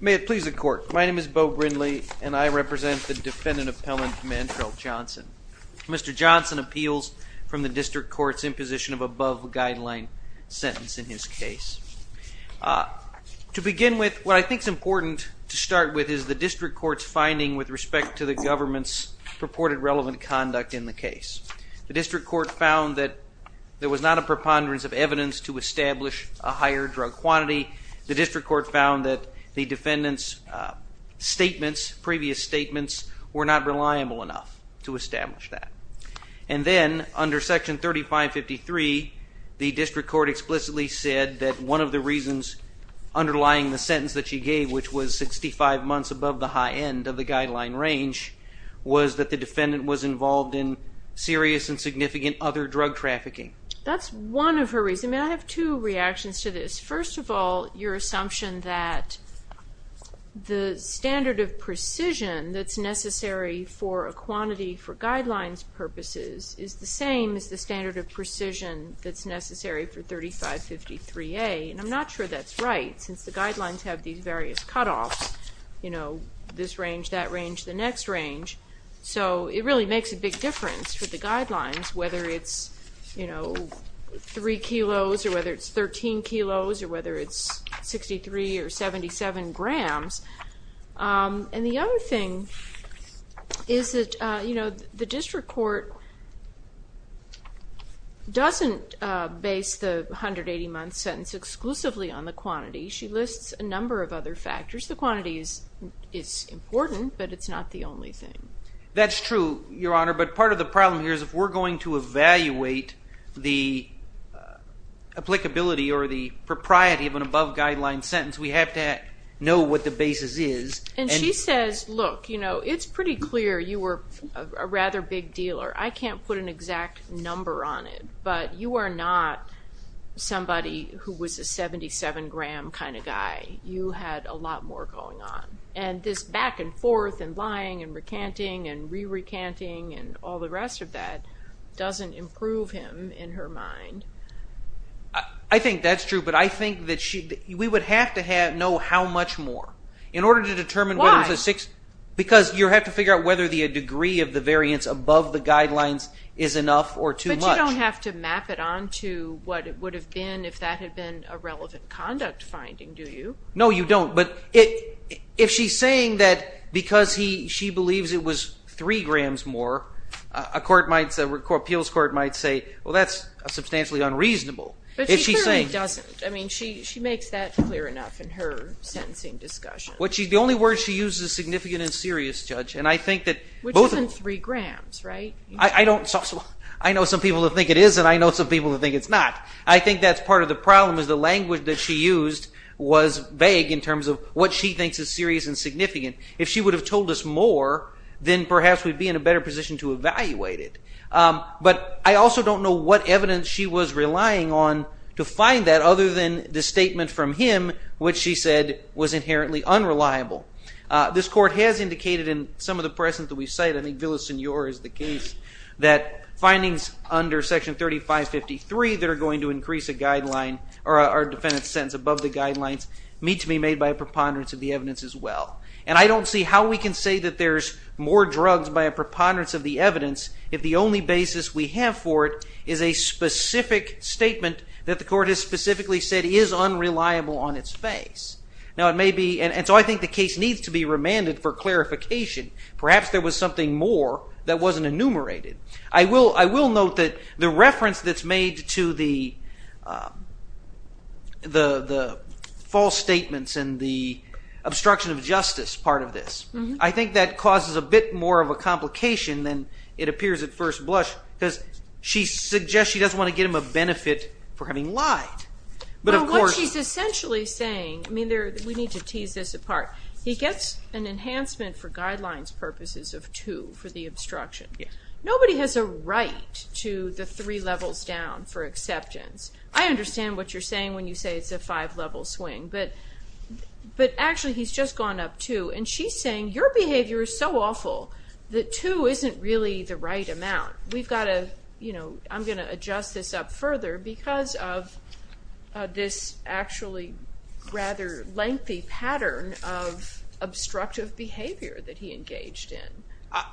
May it please the court, my name is Bo Brindley and I represent the defendant appellant Mantrell Johnson. Mr. Johnson appeals from the district courts in position of above guideline sentence in his case. To begin with, what I think is important to start with is the district courts finding with respect to the government's purported relevant conduct in the case. The district court found that there was not a preponderance of evidence to establish a higher drug quantity. The district court found that the defendant's statements, previous statements, were not reliable enough to establish that. And then under section 3553, the district court explicitly said that one of the reasons underlying the sentence that she gave, which was 65 months above the high end of the guideline range, was that the defendant was involved in serious and significant other drug trafficking. That's one of her reasons. I have two reactions to this. First of all, your assumption that the standard of precision that's necessary for a quantity for guidelines purposes is the same as the standard of precision that's necessary for 3553A. And I'm not sure that's right, since the guidelines have these various cutoffs, you know, this range, that range, the next range. So it really makes a big difference for the guidelines, whether it's, you know, three to fifteen kilos or whether it's 63 or 77 grams. And the other thing is that, you know, the district court doesn't base the 180-month sentence exclusively on the quantity. She lists a number of other factors. The quantity is important, but it's not the only thing. That's true, Your Honor, but part of the problem here is if we're going to evaluate the applicability or the propriety of an above-guideline sentence, we have to know what the basis is. And she says, look, you know, it's pretty clear you were a rather big dealer. I can't put an exact number on it, but you are not somebody who was a 77-gram kind of guy. You had a lot more going on. And this back and forth and lying and recanting and re-recanting and all the rest of that doesn't improve him in her mind. I think that's true, but I think that we would have to know how much more in order to determine whether it was a six... Why? Because you have to figure out whether the degree of the variance above the guidelines is enough or too much. But you don't have to map it on to what it would have been if that had been a relevant conduct finding, do you? No, you don't, but if she's saying that because she believes it was three grams more, a appeals court might say, well, that's substantially unreasonable. But she clearly doesn't. I mean, she makes that clear enough in her sentencing discussion. The only word she uses is significant and serious, Judge. Which isn't three grams, right? I know some people who think it is, and I know some people who think it's not. I think that's part of the problem, is the language that she used was vague in terms of what she thinks is serious and significant. If she would have told us more, then perhaps we'd be in a better position to evaluate it. But I also don't know what evidence she was relying on to find that, other than the statement from him, which she said was inherently unreliable. This court has indicated in some of the presence that we cite, I think Villasenor is the case, that findings under Section 3553 that are going to increase a defendant's sentence above the guidelines meet to be made by a preponderance of the evidence as well. And I don't see how we can say that there's more drugs by a preponderance of the evidence if the only basis we have for it is a specific statement that the court has specifically said is unreliable on its face. And so I think the case needs to be remanded for clarification. Perhaps there was something more that wasn't enumerated. I will note that the reference that's made to the false statements and the obstruction of justice part of this, I think that causes a bit more of a complication than it appears at first blush, because she suggests she doesn't want to give him a benefit for having lied. But what she's essentially saying, I mean we need to tease this apart, he gets an enhancement for guidelines purposes of 2 for the obstruction. Nobody has a right to the 3 levels down for acceptance. I understand what you're saying when you say it's a 5 level swing, but actually he's just gone up 2 and she's saying your behavior is so awful that 2 isn't really the right amount. We've got to, you know, I'm going to adjust this up further because of this actually rather lengthy pattern of obstructive behavior that he engaged in.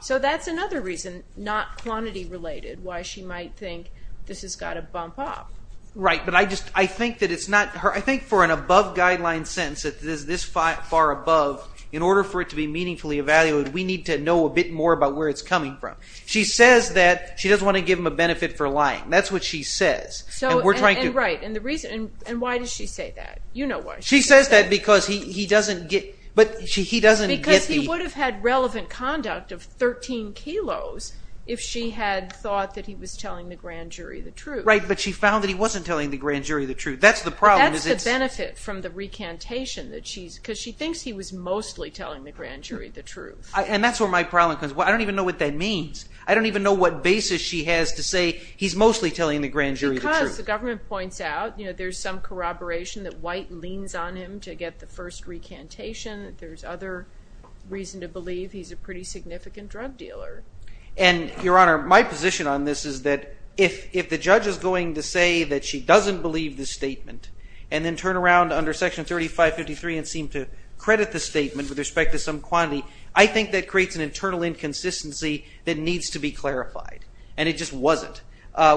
So that's another reason, not quantity related, why she might think this has got to bump up. Right, but I just, I think that it's not, I think for an above guideline sentence that is this far above, in order for it to be meaningfully evaluated, we need to know a bit more about where it's coming from. She says that she doesn't want to give him a benefit for lying. That's what she says. So, and right, and the reason, and why does she say that? You know why she says that. She says that because he doesn't get, but she, he doesn't get the. Because he would have had relevant conduct of 13 kilos if she had thought that he was telling the grand jury the truth. Right, but she found that he wasn't telling the grand jury the truth. That's the problem is it's. That's the benefit from the recantation that she's, because she thinks he was mostly telling the grand jury the truth. And that's where my problem comes. I don't even know what that means. I don't even know what basis she has to say he's mostly telling the grand jury the truth. Because the government points out, you know, there's some corroboration that White leans on him to get the first recantation. There's other reason to believe he's a pretty significant drug dealer. And, Your Honor, my position on this is that if the judge is going to say that she doesn't believe the statement, and then turn around under Section 3553 and seem to credit the statement with respect to some quantity, I think that creates an internal inconsistency that needs to be clarified. And it just wasn't.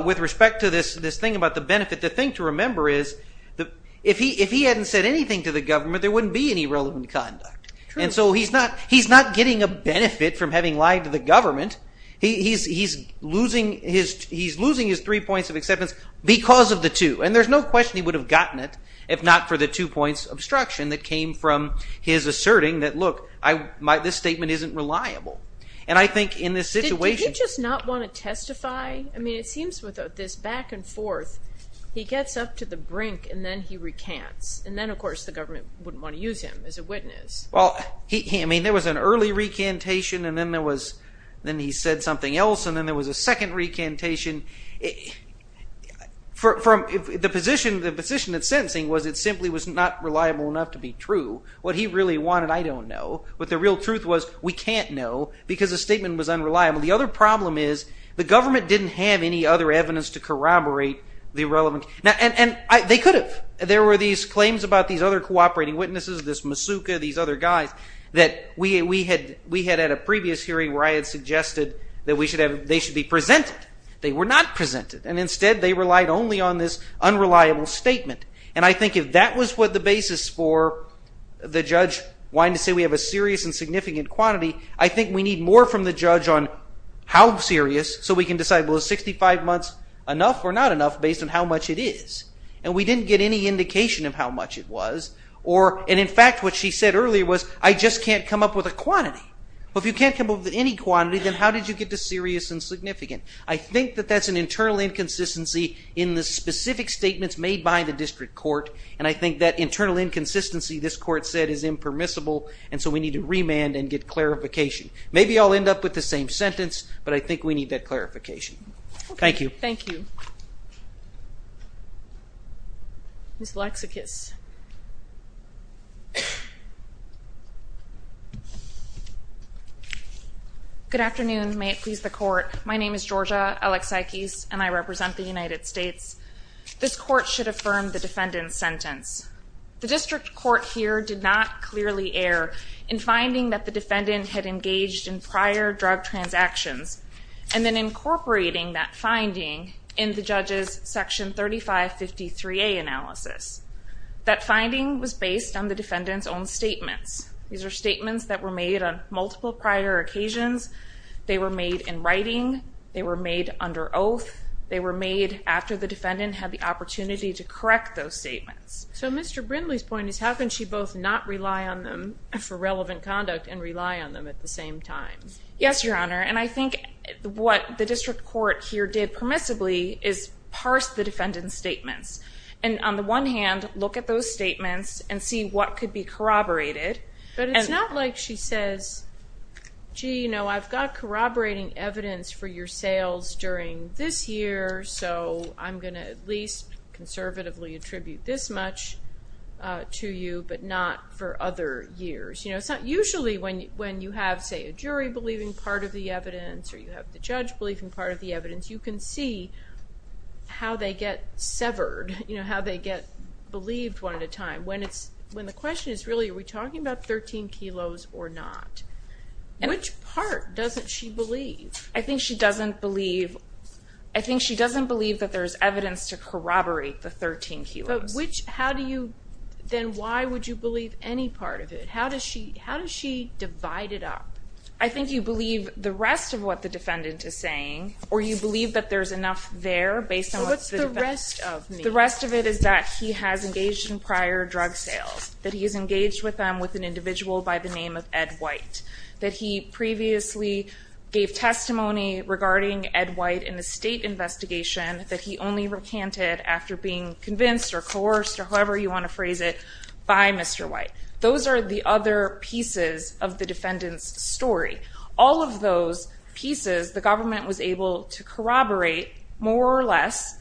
With respect to this, this thing about the benefit, the thing to remember is that if he hadn't said anything to the government, there wouldn't be any relevant conduct. And so he's not, he's not getting a benefit from having lied to the government. He's losing his, he's losing his three points of acceptance because of the two. And there's no question he would have gotten it if not for the two points of obstruction that came from his asserting that, look, this statement isn't reliable. And I think in this situation... Did he just not want to testify? I mean, it seems with this back and forth, he gets up to the brink and then he recants. And then, of course, the government wouldn't want to use him as a witness. Well, he, I mean, there was an early recantation. And then there was, then he said something else. And then there was a second recantation. From the position, the position at sentencing was it simply was not reliable enough to be true. What he really wanted, I don't know. But the real truth was we can't know because the statement was unreliable. The other problem is the government didn't have any other evidence to corroborate the relevant... And they could have. There were these claims about these other cooperating witnesses, this Masuka, these other guys, that we had at a previous hearing where I had suggested that we should have, they should be presented. They were not presented. And instead, they relied only on this unreliable statement. And I think if that was what the basis for the judge wanting to say we have a serious and significant quantity, I think we need more from the judge on how serious so we can decide, well, is 65 months enough or not enough based on how much it is? And we didn't get any indication of how much it was. Or, and in fact, what she said earlier was, I just can't come up with a quantity. Well, if you can't come up with any quantity, then how did you get to 65 months? And I think that that's an internal inconsistency in the specific statements made by the district court. And I think that internal inconsistency, this court said, is impermissible. And so we need to remand and get clarification. Maybe I'll end up with the same sentence, but I think we need that clarification. Thank you. Thank you. Ms. Laksakis. Good afternoon. May it please the court. My name is Georgia Laksakis, and I represent the United States. This court should affirm the defendant's sentence. The district court here did not clearly err in finding that the defendant had engaged in prior drug transactions and then incorporating that finding in the judge's section 3553A analysis. That finding was based on the defendant's own statements. These are statements that were made on multiple prior occasions. They were made in writing. They were made under oath. They were made after the defendant had the opportunity to correct those statements. So Mr. Brindley's point is, how can she both not rely on them for relevant conduct and rely on them at the same time? Yes, Your Honor, what the court here did permissibly is parse the defendant's statements. And on the one hand, look at those statements and see what could be corroborated. But it's not like she says, gee, you know, I've got corroborating evidence for your sales during this year, so I'm going to at least conservatively attribute this much to you, but not for other years. You know, it's not usually when you have, say, a jury believing part of the evidence or you have the judge believing part of the evidence, you can see how they get severed, you know, how they get believed one at a time. When it's, when the question is really, are we talking about 13 kilos or not? Which part doesn't she believe? I think she doesn't believe, I think she doesn't believe that there's evidence to corroborate the 13 kilos. But which, how do you, then why would you believe any part of it? How does she, how does she divide it up? I think you believe the rest of what the defendant is saying, or you believe that there's enough there based on what's the rest of the rest of it is that he has engaged in prior drug sales, that he is engaged with them with an individual by the name of Ed White, that he previously gave testimony regarding Ed White in a state investigation that he only recanted after being convinced or coerced or whoever you want to phrase it by Mr. White. Those are the other pieces of the defendant's story. All of those pieces, the government was able to corroborate more or less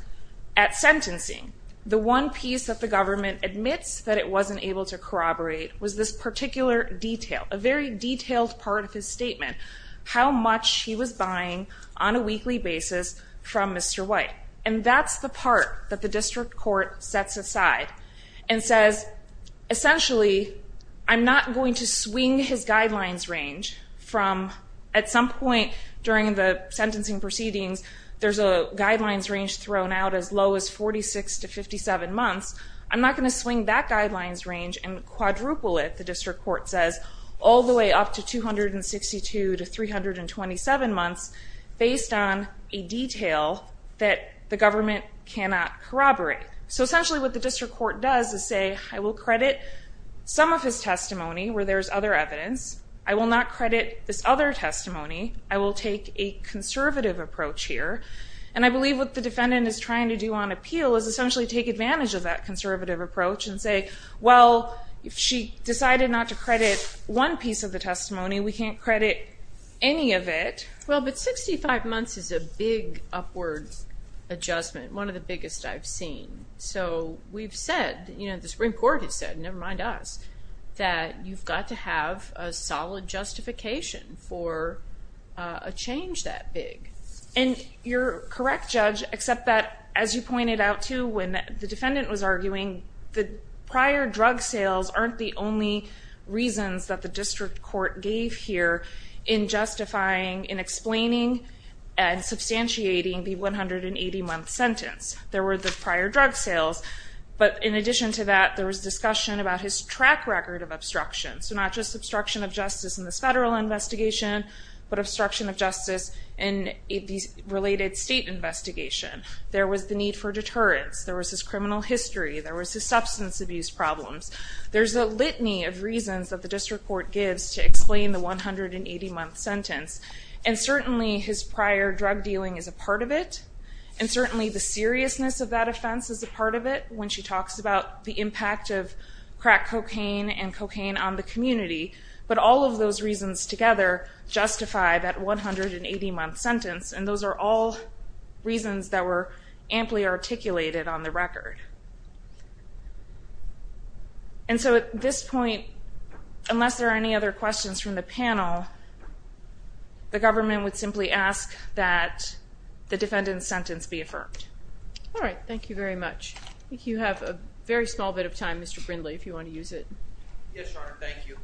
at sentencing. The one piece that the government admits that it wasn't able to corroborate was this particular detail, a very detailed part of his statement, how much he was buying on a weekly basis from Mr. White. And that's the part that the district court sets aside and says, essentially, I'm not going to swing his guidelines range from at some point during the sentencing proceedings, there's a guidelines range thrown out as low as 46 to 57 months. I'm not going to swing that guidelines range and quadruple it, the government cannot corroborate. So essentially what the district court does is say, I will credit some of his testimony where there's other evidence. I will not credit this other testimony. I will take a conservative approach here. And I believe what the defendant is trying to do on appeal is essentially take advantage of that conservative approach and say, well, if she decided not to credit one piece of the testimony, we can't credit any of it. Well, but 65 months is a big upward adjustment, one of the biggest I've seen. So we've said, you know, the Supreme Court has said, never mind us, that you've got to have a solid justification for a change that big. And you're correct, Judge, except that, as you pointed out too, when the defendant was arguing, the prior drug sales aren't the only reasons that the district court gave here in justifying, in explaining and substantiating the 180-month sentence. There were the prior drug sales, but in addition to that, there was discussion about his track record of obstruction. So not just obstruction of justice in this federal investigation, but obstruction of justice in a related state investigation. There was the need for explaining the 180-month sentence. And certainly his prior drug dealing is a part of it. And certainly the seriousness of that offense is a part of it, when she talks about the impact of crack cocaine and cocaine on the community. But all of those reasons together justify that 180-month sentence. And those are all reasons that were amply articulated on the record. And so at this point, unless there are any other questions from the panel, the government would simply ask that the defendant's sentence be affirmed. All right, thank you very much. I think you have a very small bit of time, Mr. Brindley, if you want to use it. Yes, Your Honor, thank you.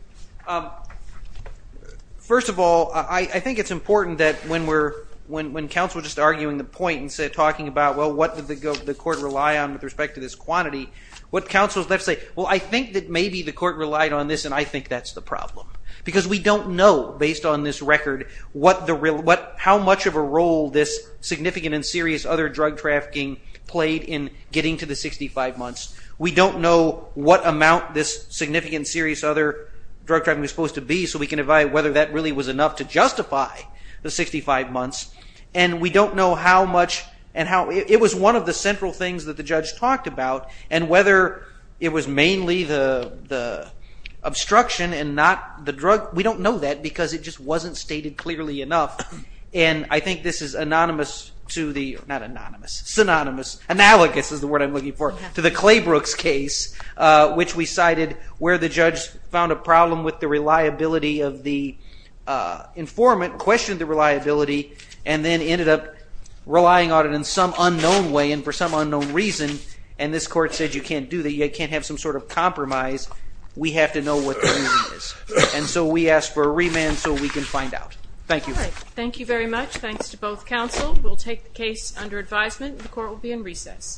First of all, I think it's important that when counsel is just arguing the point and talking about, well, what did the court rely on with respect to this quantity, what counsel is left to say, well, I think that maybe the court relied on this, and I think that's the problem. Because we don't know, based on this record, how much of a role this significant and serious other drug trafficking played in getting to the 65 months. We don't know what amount this significant, serious other drug trafficking was supposed to be, so we can evaluate whether that really was enough to justify the 65 months. And we don't know how much, and it was one of the central things that the judge talked about, and whether it was mainly the obstruction and not the drug, we don't know that because it just wasn't stated clearly enough. And I think this is synonymous, analogous is the word I'm looking for, to the Claybrooks case, which we cited, where the judge found a problem with the reliability of the informant, questioned the reliability, and then ended up relying on it in some unknown way and for some unknown reason, and this court said you can't do that, you can't have some sort of compromise, we have to know what the reason is. And so we ask for a remand so we can find out. Thank you. Thank you very much. Thanks to both counsel. We'll take the case under advisement. The court will be in recess.